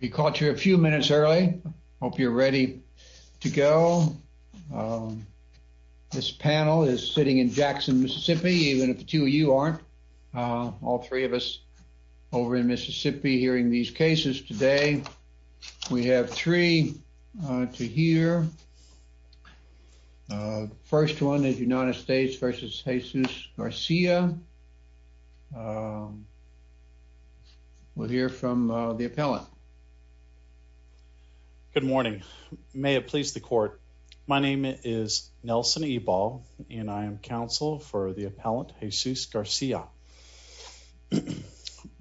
We caught you a few minutes early. I hope you're ready to go. This panel is sitting in Jackson, Mississippi, even if the two of you aren't. All three of us over in Mississippi hearing these cases today. We have three to hear. The first one is United States v. Jesus Garcia. Um, we'll hear from the appellant. Good morning. May it please the court. My name is Nelson e ball and I am counsel for the appellant Jesus Garcia.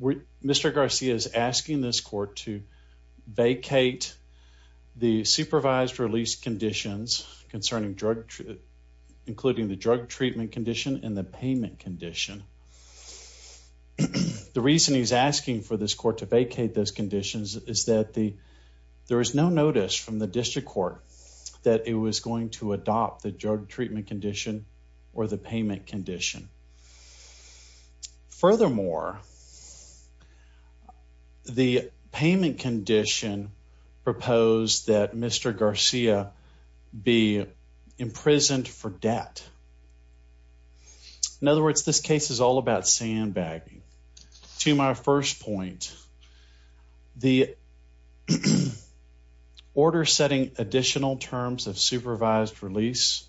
Mr Garcia is asking this court to vacate the supervised release conditions concerning drug, including the drug treatment condition and the payment condition. The reason he's asking for this court to vacate those conditions is that the there is no notice from the district court that it was going to adopt the drug treatment condition or the payment condition. Furthermore, the payment In other words, this case is all about sandbagging. To my first point, the order setting additional terms of supervised release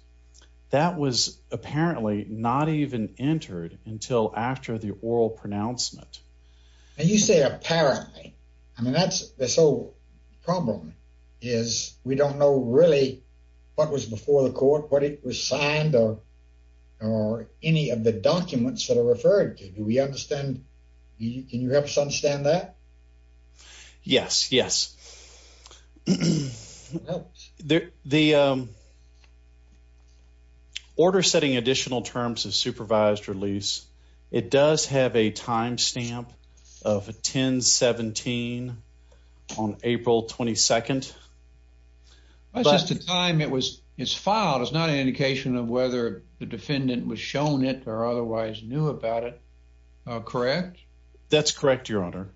that was apparently not even entered until after the oral pronouncement. And you say, apparently, I mean, that's so problem is we don't know really what was before the court, what it was signed or or any of the documents that are referred to. Do we understand? Can you help us understand that? Yes, yes, the order setting additional terms of supervised release. It does have a time second. That's just the time it was. It's filed. It's not an indication of whether the defendant was shown it or otherwise knew about it. Correct? That's correct, Your Honor.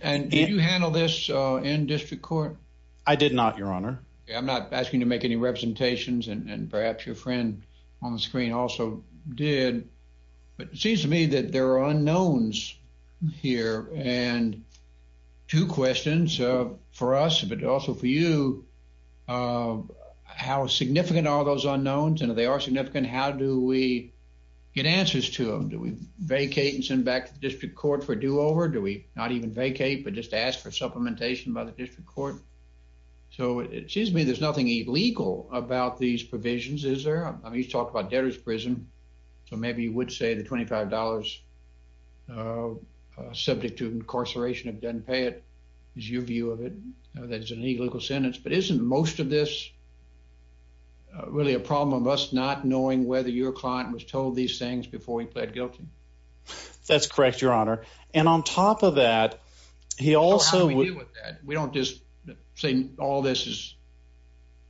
And did you handle this in district court? I did not, Your Honor. I'm not asking to make any representations. And perhaps your friend on the screen also did. But it seems to me that there are unknowns here and two questions for us, but also for you. Uh, how significant are those unknowns? And they are significant. How do we get answers to him? Do we vacate and send back the district court for do over? Do we not even vacate but just ask for supplementation by the district court? So it seems to me there's nothing illegal about these provisions. Is there? I mean, he's talked about debtors prison. So maybe you would say the $25 subject to incarceration of doesn't pay it is your view of it. That's an illegal sentence. But isn't most of this really a problem of us not knowing whether your client was told these things before he pled guilty? That's correct, Your Honor. And on top of that, he also we don't just saying all this is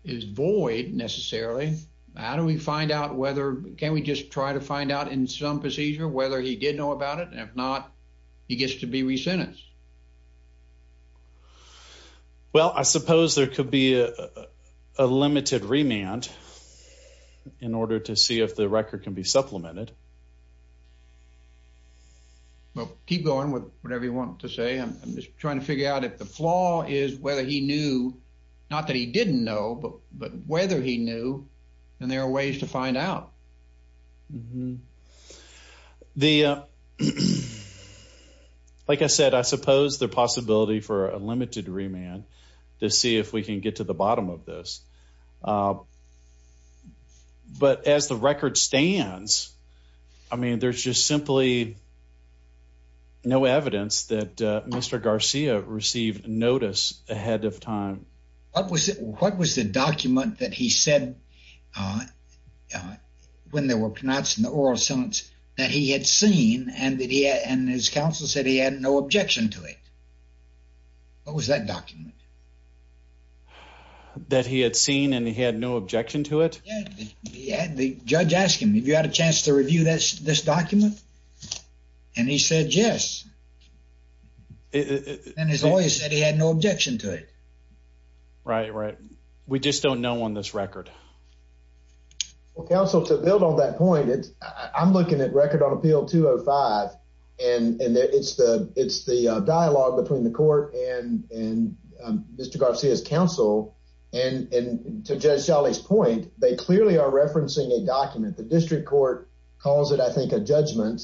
is void necessarily. How do we find out whether can we just try to find out in some procedure whether he did know about it? If not, he gets to be re sentenced. Well, I suppose there could be a limited remand in order to see if the record can be supplemented. Well, keep going with whatever you want to say. I'm just trying to figure out if the flaw is whether he knew not that he didn't know, but whether he knew and there are ways to find out. The like I said, I suppose the possibility for a limited remand to see if we can get to the bottom of this. But as the record stands, I mean, there's just simply no evidence that Mr Garcia received notice ahead of time. What was it? What was the document that he said? Uh, when they were pronounced in the oral sentence that he had seen and that he and his counsel said he had no objection to it. What was that document that he had seen and he had no objection to it? Yeah. The judge asked him if you had a chance to review this this document, and he said yes. And his lawyer said he had no objection to it. Right, right. We just don't know on this record. Council to build on that point. I'm looking at record on appeal 205 and it's the it's the dialogue between the court and Mr Garcia's counsel and to judge Charlie's point, they clearly are referencing a document. The district court calls it, I think, a judgment.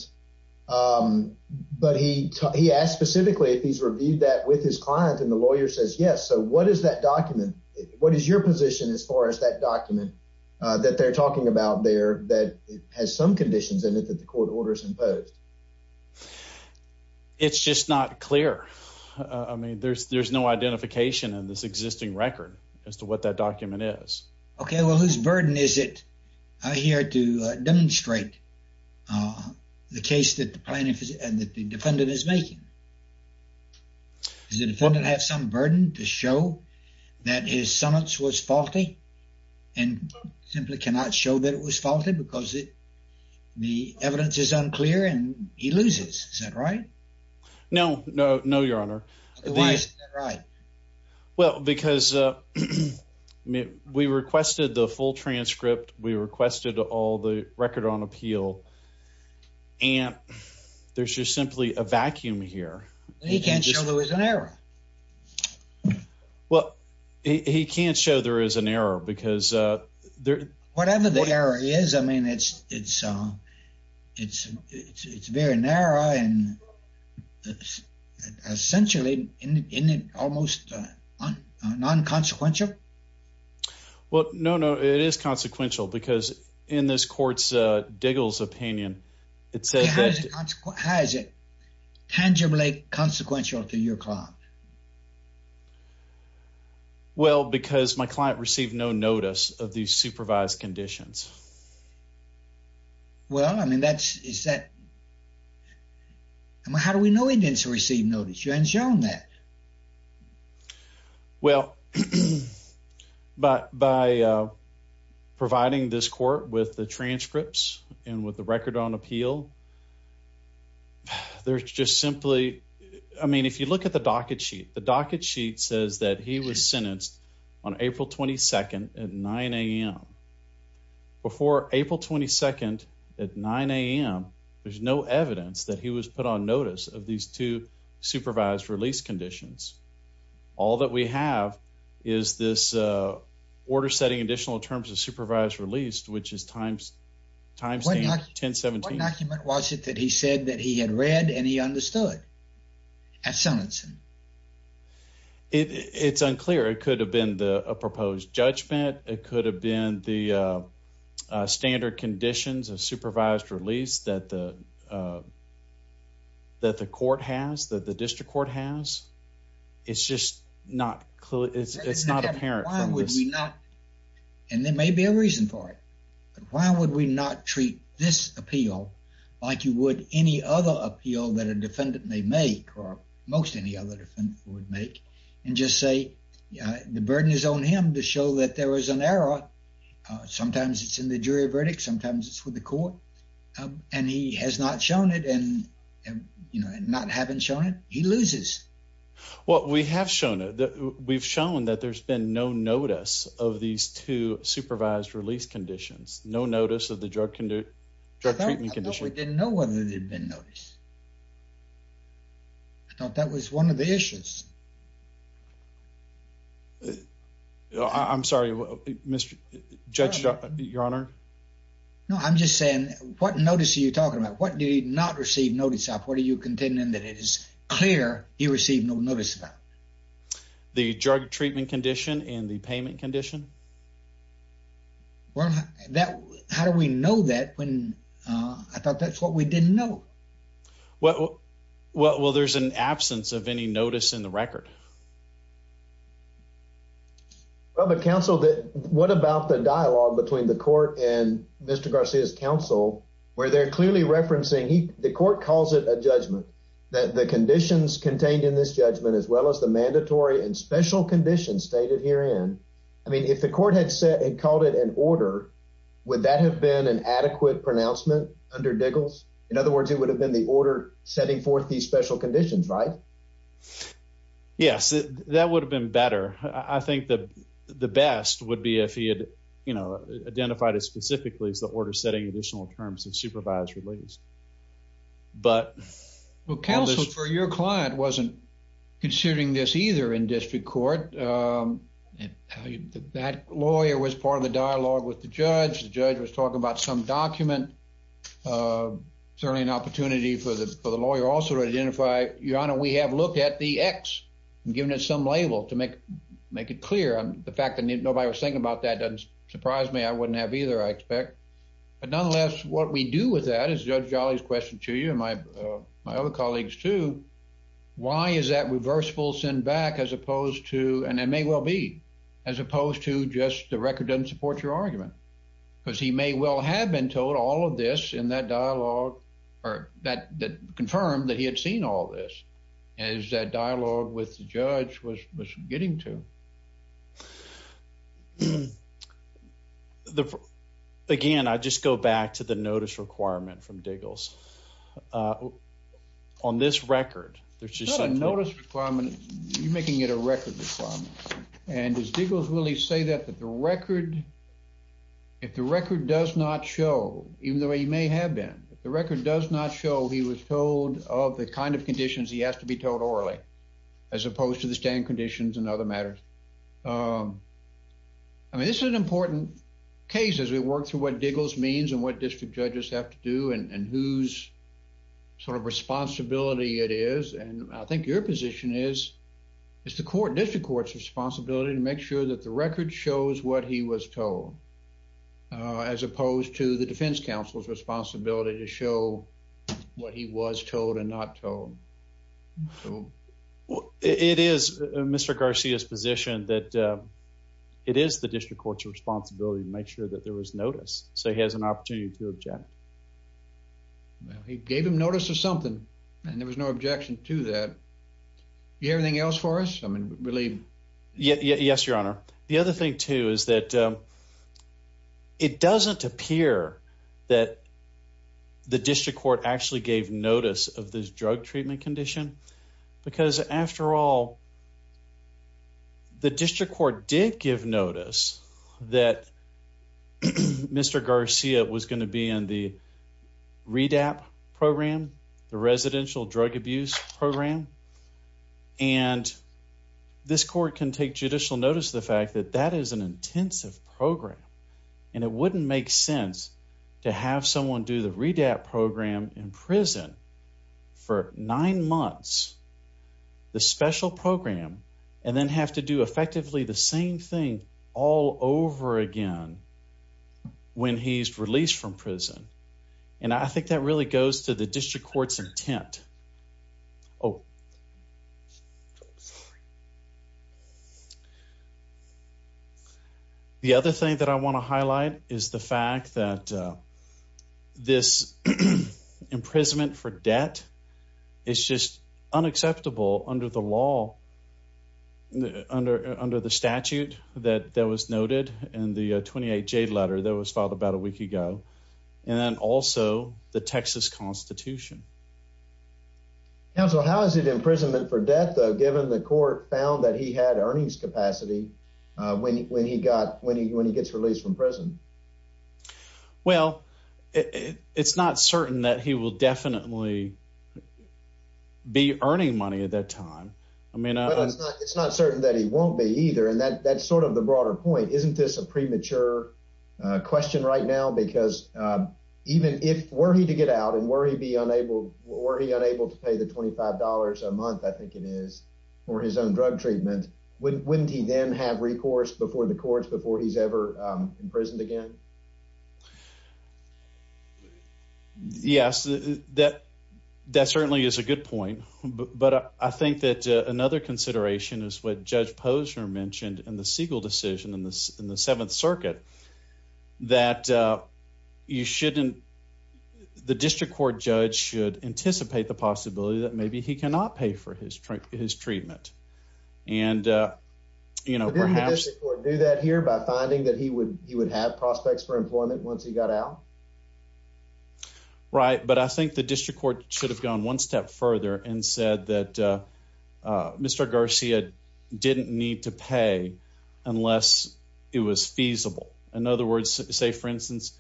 Um, but he he asked specifically if he's reviewed that with his client and the lawyer says yes. So what is that document? What is your position as far as that document that they're talking about there that has some conditions in it that the court orders imposed? It's just not clear. I mean, there's there's no identification in this existing record as to what that document is. Okay, well, whose burden is it here to demonstrate the case that the plaintiff is and that the defendant is making? The defendant has some burden to show that his summons was faulty and simply cannot show that it was faulty because it the evidence is unclear, and he loses. Is that right? No, no, no, Your Honor. Why is that right? Well, because, uh, we requested the full transcript. We requested all the record on appeal, and there's just simply a vacuum here. He can't show there was an error. Well, he can't show there is an error because, uh, whatever the error is. I mean, it's it's, uh, it's it's very narrow and essentially almost non consequential. Well, no, no, it is consequential because in this court's Diggle's opinion, it says that has it tangibly consequential to your client. Well, because my client received no notice of these supervised conditions. Well, I mean, that's is that how do we know he didn't receive notice? You haven't shown that. Yeah. Well, but by providing this court with the transcripts and with the record on appeal, there's just simply I mean, if you look at the docket sheet, the docket sheet says that he was sentenced on April 22nd at nine a.m. Before April 22nd at nine a.m. There's no evidence that he was put on notice of these two supervised release conditions. All that we have is this order setting additional terms of supervised released, which is times times 10 17. What document was it that he said that he had read and he understood at Sonnenson? It's unclear. It could have been the proposed judgment. It could have been the standard conditions of supervised release that the, uh, that the court has that the district court has. It's just not clear. It's not apparent. Why would we not? And there may be a reason for it. Why would we not treat this appeal like you would any other appeal that a defendant may make or most any other different would make and just say the burden is on him to show that there was an error. Sometimes it's in the jury verdict. Sometimes it's with the court, and he has not shown it. And, you know, not having shown it, he loses what we have shown it. We've shown that there's been no notice of these two supervised release conditions. No notice of the drug can do drug treatment condition. We didn't know whether they've been noticed. I thought that was one of the issues. I'm sorry, Mr Judge, Your Honor. No, I'm just saying what notice are you talking about? What do you not receive notice of? What are you contending that it is clear he received no notice about the drug treatment condition and the payment condition? Well, that how do we know that when I thought that's what we didn't know? Well, well, there's an absence of any notice in the record. Well, the council that what about the dialogue between the court and Mr Garcia's counsel where they're clearly referencing the court calls it a judgment that the conditions contained in this judgment as well as the mandatory and special conditions stated here in. I mean, if the court had said and called it an order, would that have been an adequate pronouncement under diggles? In other words, it would have been the order setting forth these special conditions, right? Yes, that would have been better. I think that the best would be if he had, you know, identified it specifically as the order setting additional terms of supervised release. But well, counsel for your client wasn't considering this either in district court. Um, that lawyer was part of the dialogue with the judge. The judge was talking about some document. Uh, certainly an opportunity for the for identify your honor. We have looked at the X given it some label to make make it clear on the fact that nobody was thinking about. That doesn't surprise me. I wouldn't have either, I expect. But nonetheless, what we do with that is Judge Jolly's question to you and my my other colleagues to why is that reversible send back as opposed to and it may well be as opposed to just the record doesn't support your argument because he may well have been told all this in that dialogue or that that confirmed that he had seen all this as that dialogue with the judge was getting to the again. I just go back to the notice requirement from diggles. Uh, on this record, there's just a notice requirement. You're making it a record requirement. And his diggles really say that that the record if the record does not show, even though he may have been, the record does not show he was told of the kind of conditions he has to be told orally as opposed to the stand conditions and other matters. Um, I mean, this is an important case as we work through what diggles means and what district judges have to do and who's sort of responsibility it is. And I think your position is it's the court district court's responsibility to make sure that the record shows what he was told, uh, as opposed to the defense counsel's responsibility to show what he was told and not told. So it is Mr Garcia's position that it is the district court's responsibility to make sure that there was notice. So he has an opportunity to object. He gave him notice of something, and there was no objection to that. You have anything else for us? I mean, really? Yes, Your Honor. The other thing, too, is that, um, it doesn't appear that the district court actually gave notice of this drug treatment condition because, after all, the district court did give notice that Mr Garcia was going to be in the read app program, the residential drug abuse program, and this court can take judicial notice of the fact that that is an intensive program, and it wouldn't make sense to have someone do the read app program in prison for nine months, the special program and then have to do effectively the same thing all over again when he's released from prison. And I think that really goes to the district court's intent. Oh, yes. The other thing that I want to highlight is the fact that, uh, this imprisonment for debt is just unacceptable under the law under under the statute that that was noted in the 28 Jade letter that was filed about a week ago and then also the Texas Constitution. Counsel, how is it imprisonment for death, given the court found that he had earnings capacity when he got when he when he gets released from prison? Well, it's not certain that he will definitely be earning money at that time. I mean, it's not certain that he won't be either. And that's sort of the broader point. Isn't this a premature question right now? Because even if were he to get out and worry be unable, were he on drug treatment, wouldn't he then have recourse before the courts before he's ever imprisoned again? Yes, that that certainly is a good point. But I think that another consideration is what Judge Posner mentioned in the Siegel decision in this in the Seventh Circuit that you shouldn't. The district court judge should anticipate the possibility that maybe he cannot pay for his his treatment. And, you know, perhaps do that here by finding that he would he would have prospects for employment once he got out. Right. But I think the district court should have gone one step further and said that, uh, Mr Garcia didn't need to pay unless it was feasible. In other words, say, for instance,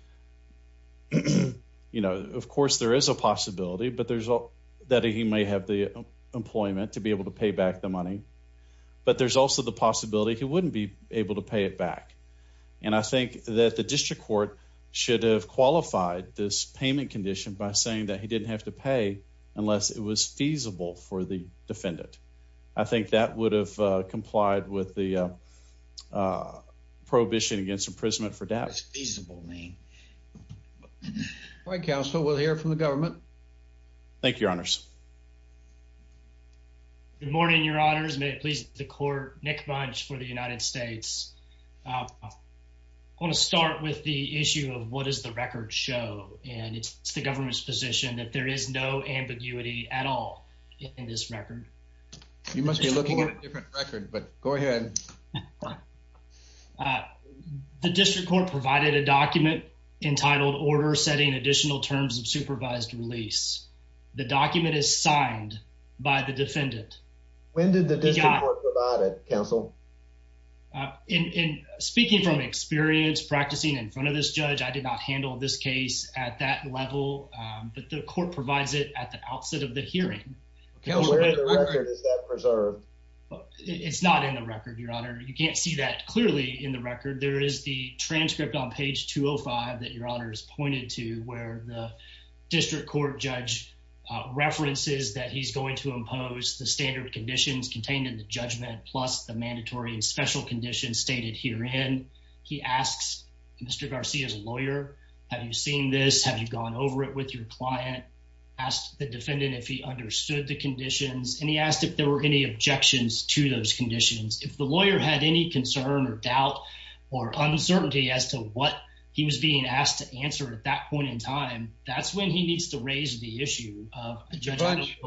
you know, of course, there is a possibility, but there's that he may have the employment to be able to pay back the money. But there's also the possibility he wouldn't be able to pay it back. And I think that the district court should have qualified this payment condition by saying that he didn't have to pay unless it was feasible for the defendant. I think that would have complied with the, uh, prohibition against imprisonment for death. Feasible mean Good morning, Your Honors. May it please the court. Nick Bunch for the United States. Uh, I want to start with the issue of what is the record show, and it's the government's position that there is no ambiguity at all in this record. You must be looking at a different record, but go ahead. Uh, the district court provided a document entitled Order setting additional terms of supervised release. The document is signed by the defendant. When did the district court provide it, Counsel? Uh, in speaking from experience practicing in front of this judge, I did not handle this case at that level, but the court provides it at the outset of the hearing. Where is that preserved? It's not in the record, Your Honor. You can't see that clearly in the record. There is the transcript on page 205 that your honor's pointed to where the district court judge references that he's going to impose the standard conditions contained in the judgment plus the mandatory and special conditions stated here. And he asks Mr Garcia's lawyer. Have you seen this? Have you gone over it with your client? Asked the defendant if he understood the conditions, and he asked if there were any objections to those conditions. If the lawyer had any concern or doubt or uncertainty as to what he was being asked to answer at that point in time, that's when he needs to raise the issue of judge.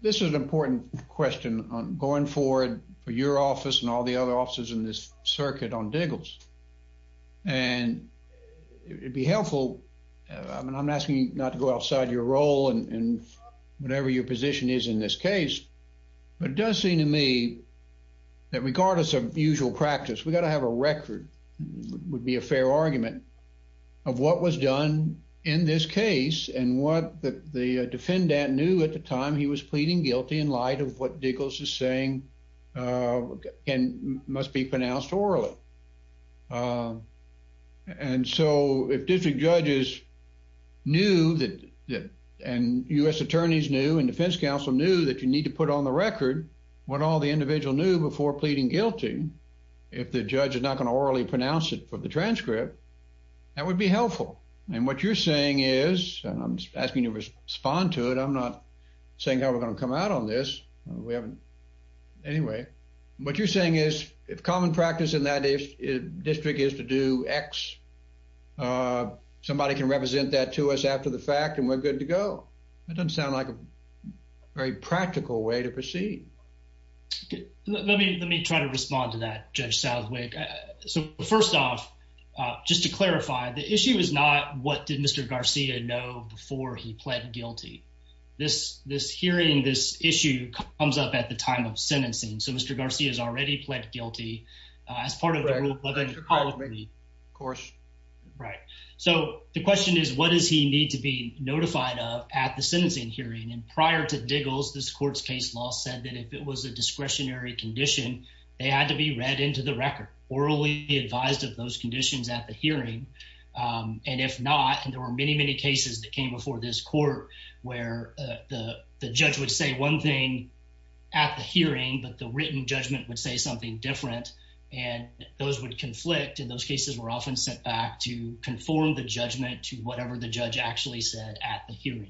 This is an important question on going forward for your office and all the other officers in this circuit on diggles, and it would be helpful. I'm asking you not to go outside your role and whatever your position is in this practice, we gotta have a record would be a fair argument of what was done in this case and what the defendant knew at the time he was pleading guilty in light of what diggles is saying, uh, and must be pronounced orally. Um, and so if district judges knew that and U. S. Attorneys knew and defense counsel knew that you need to put on the record what all the individual knew before pleading guilty. If the judge is not gonna orally pronounce it for the transcript, that would be helpful. And what you're saying is I'm asking you respond to it. I'm not saying how we're gonna come out on this. We haven't anyway. What you're saying is, if common practice in that if district is to do X, uh, somebody can represent that to us after the fact, and we're good to go. It doesn't sound like a very practical way to proceed. Let me let me try to respond to that. Judge Southwick. So first off, just to clarify, the issue is not what did Mr Garcia know before he pled guilty? This this hearing this issue comes up at the time of sentencing. So Mr Garcia's already pled guilty as part of the ruling. Of course, right. So the question is, what does he need to be notified of the sentencing hearing? And prior to Diggles, this court's case law said that if it was a discretionary condition, they had to be read into the record orally advised of those conditions at the hearing. Um, and if not, there were many, many cases that came before this court where the judge would say one thing at the hearing, but the written judgment would say something different, and those would conflict in those cases were often sent back to conform the judgment to whatever the judge actually said at the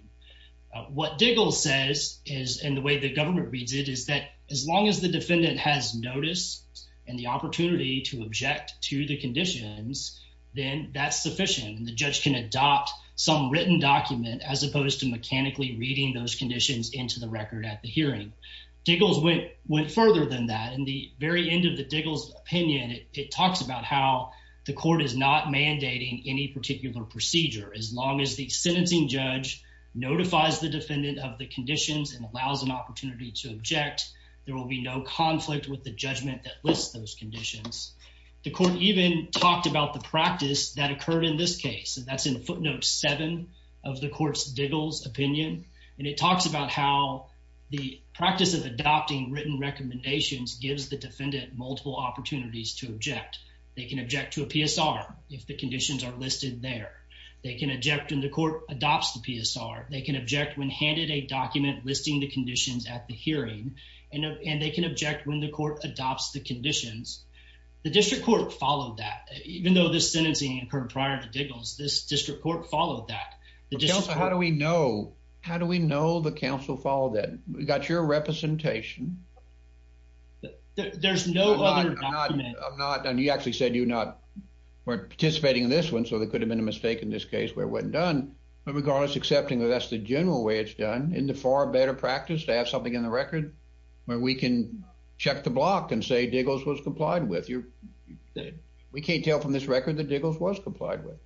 What Diggle says is in the way the government reads it is that as long as the defendant has notice and the opportunity to object to the conditions, then that's sufficient. The judge can adopt some written document as opposed to mechanically reading those conditions into the record at the hearing. Diggles went went further than that. In the very end of the Diggles opinion, it talks about how the court is not mandating any particular procedure as long as the sentencing judge notifies the defendant of the conditions and allows an opportunity to object. There will be no conflict with the judgment that lists those conditions. The court even talked about the practice that occurred in this case. That's in footnote seven of the court's Diggles opinion, and it talks about how the practice of adopting written recommendations gives the defendant multiple opportunities to object. They can object to a PSR if the conditions are listed there. They can object in the court adopts the PSR. They can object when handed a document listing the conditions at the hearing, and they can object when the court adopts the conditions. The district court followed that, even though this sentencing occurred prior to Diggles. This district court followed that. How do we know? How do we know the council followed it? We got your representation. There's no other document. I'm not. And you actually said you're not participating in this one, so there could have been a mistake in this case where it wasn't done. But regardless, accepting that that's the general way it's done in the far better practice to have something in the record where we can check the block and say Diggles was complied with your we can't tell from this record that Diggles was complied with.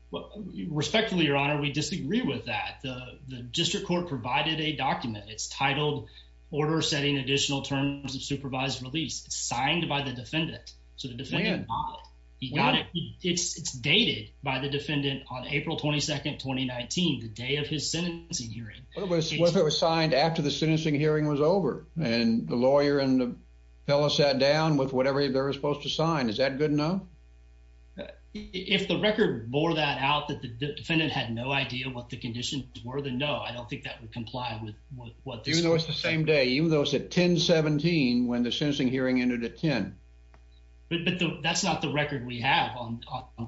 Respectfully, Your Honor, we disagree with that. The district court provided a document. It's titled Order Setting Additional Terms of Supervised Release, signed by the defendant. So the defendant, he got it. It's dated by the defendant on April 22nd, 2019, the day of his sentencing hearing. What if it was signed after the sentencing hearing was over and the lawyer and the fellow sat down with whatever they're supposed to sign? Is that good enough? If the record bore that out that the defendant had no idea what the conditions were, then no, I don't think that would comply with what you know the same day, even though it's a 10 17 when the sentencing hearing entered a 10. But that's not the record we have on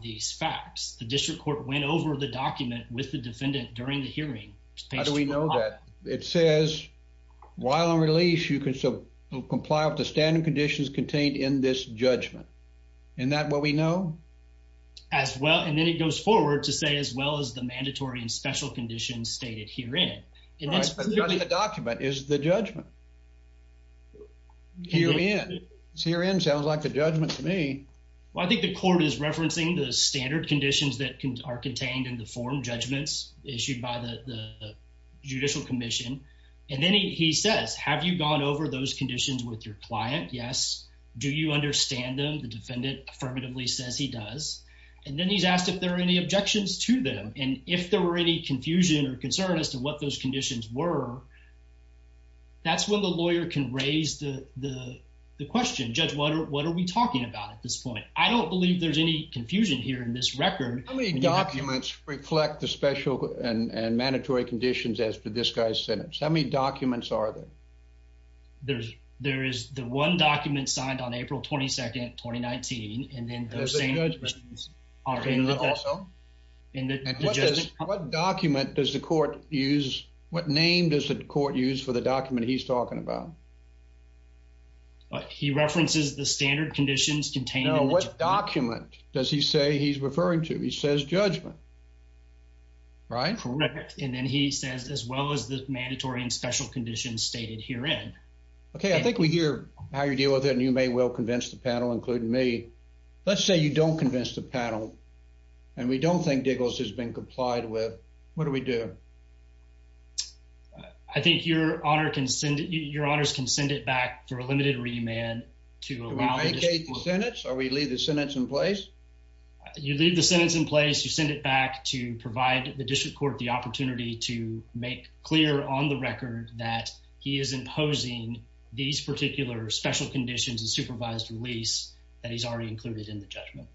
these facts. The district court went over the document with the defendant during the hearing. How do we know that it says while on release, you can still comply with the standard conditions contained in this judgment. And that what we know as well. And then it goes forward to say, as well as the mandatory and special conditions stated here in the document is the judgment here in Syrian sounds like a judgment to me. Well, I think the court is referencing the standard conditions that are contained in the form judgments issued by the Judicial Commission. And then he says, Have you gone over those conditions with your client? Yes. Do you understand them? The defendant affirmatively says he does. And then he's asked if there are any objections to them. And if there were any confusion or concern as to what those conditions were, that's when the lawyer can raise the question. Judge, what are we talking about? At this point? I don't believe there's any confusion here in this record. Documents reflect the special and mandatory conditions as for this guy's sentence. How many documents are there? There's there is the one document signed on April 22nd, 2019. And then the same are also in the document. Does the court use? What name does the court use for the document he's talking about? But he references the standard conditions contain. What document does he say he's referring to? He says judgment right for record. And then he says, as well as the mandatory and special conditions stated here in. Okay, I think we hear how you deal with it. And you may well convince the panel, including me. Let's say you don't convince the panel and we don't think giggles has been complied with. What do we do? I think your honor can send your honors can send it back for a limited remand to make a sentence or we leave the sentence in place. You leave the sentence in place. You send it back to provide the district court the opportunity to make clear on the record that he is imposing these particular the judgment.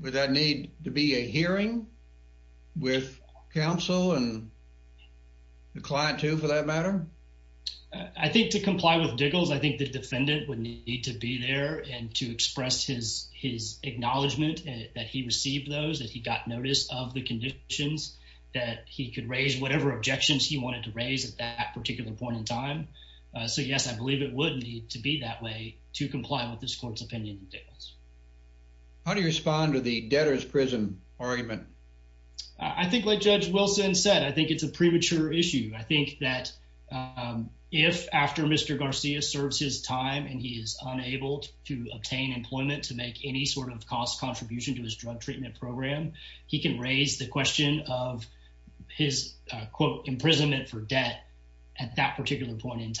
Would that need to be a hearing with counsel and the client to for that matter? I think to comply with giggles, I think the defendant would need to be there and to express his his acknowledgement that he received those that he got notice of the conditions that he could raise whatever objections he wanted to raise at that particular point in time. Eso Yes, I believe it would need to be that way to comply with this court's opinion. Yes. How do you respond to the debtor's prison argument? I think, like Judge Wilson said, I think it's a premature issue. I think that, um, if after Mr Garcia serves his time and he is unable to obtain employment to make any sort of cost contribution to his drug treatment program, he can raise the question of his, quote, imprisonment for debt at that particular point in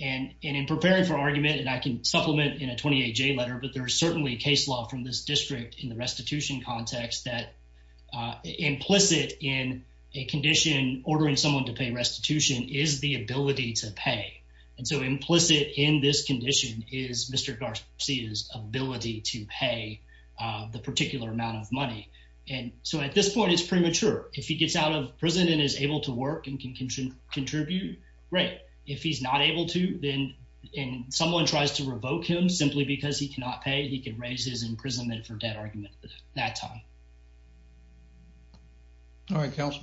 And in preparing for argument, and I can supplement in a 28 J letter, but there's certainly case law from this district in the restitution context that implicit in a condition ordering someone to pay restitution is the ability to pay. And so implicit in this condition is Mr Garcia's ability to pay the particular amount of money. And so at this point, it's premature. If he gets out of prison and is able to work and can contribute right if he's not able to, then someone tries to revoke him simply because he cannot pay. He could raise his imprisonment for debt argument that time. All right, Council.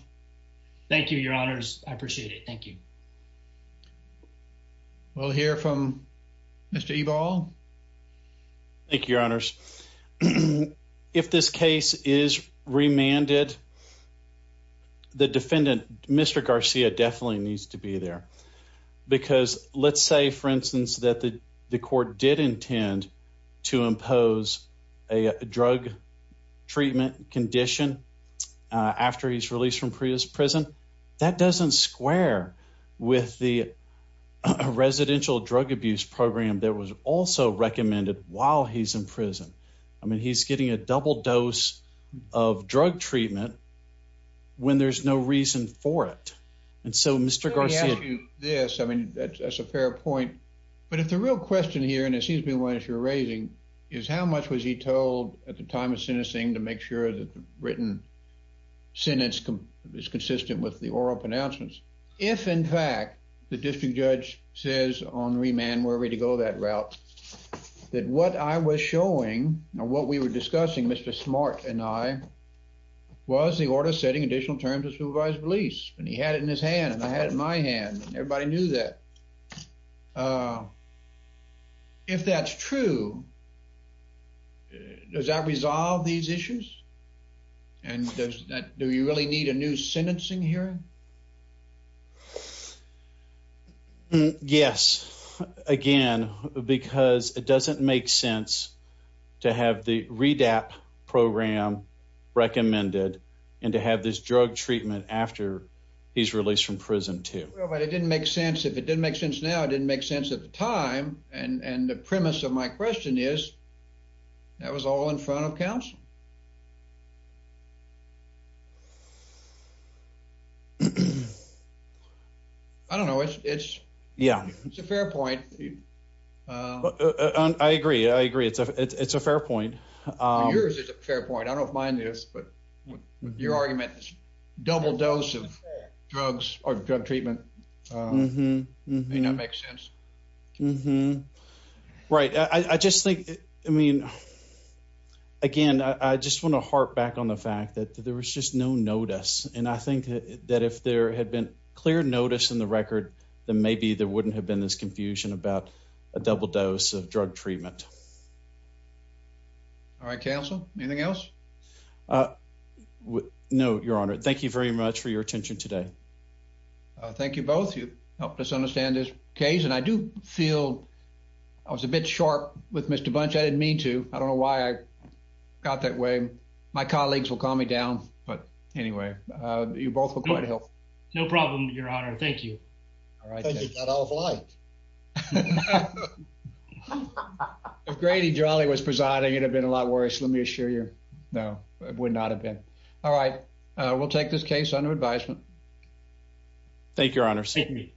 Thank you, Your Honors. I appreciate it. Thank you. We'll hear from Mr E ball. Thank you, Your Honors. If this case is remanded, the defendant, Mr Garcia definitely needs to be there. Because let's say, for instance, that the court did intend to impose a drug treatment condition after he's released from Prius prison. That doesn't square with the residential drug abuse program. There was also recommended while he's in treatment when there's no reason for it. And so, Mr Garcia, this I mean, that's a fair point. But if the real question here, and it seems to be one that you're raising is how much was he told at the time of sentencing to make sure that written sentence is consistent with the oral pronouncements. If, in fact, the district judge says on remand, where we to go that route that what I was showing what we were discussing, Mr Smart and I was the order setting additional terms of supervised release. And he had it in his hand, and I had my hand. Everybody knew that. If that's true, does that resolve these issues? And do you really need a new sentencing here? Yes. Again, because it doesn't make sense to have the read app program recommended and to have this drug treatment after he's released from prison, too. But it didn't make sense. If it didn't make sense now, it didn't make sense at the time. And the premise of my question is that was all in front of council. Mm hmm. I don't know. It's Yeah, it's a fair point. Uh, I agree. I agree. It's a It's a fair point. Yours is a fair point. I don't mind this. But your argument is double dose of drugs or drug treatment. Mm hmm. Mm hmm. That makes sense. Mm hmm. Right. I just think I mean, again, I just want to harp back on the fact that there was just no notice. And I think that if there had been clear notice in the record, then maybe there wouldn't have been this confusion about a double dose of drug treatment. All right, Council. Anything else? Uh, no, Your Honor. Thank you very much for your attention today. Thank you both. You helped us understand this case. And I do feel I was a bit sharp with Mr Bunch. I didn't mean to. I don't know why I got that way. My colleagues will calm me down. But anyway, you both were quite help. No problem, Your Honor. Thank you. All right. Thank you. That I was like, if Grady Jolly was presiding, it had been a lot worse. Let me assure you. No, it would not have been. All right, we'll take this case under advisement. Thank you, Your Honor. See me.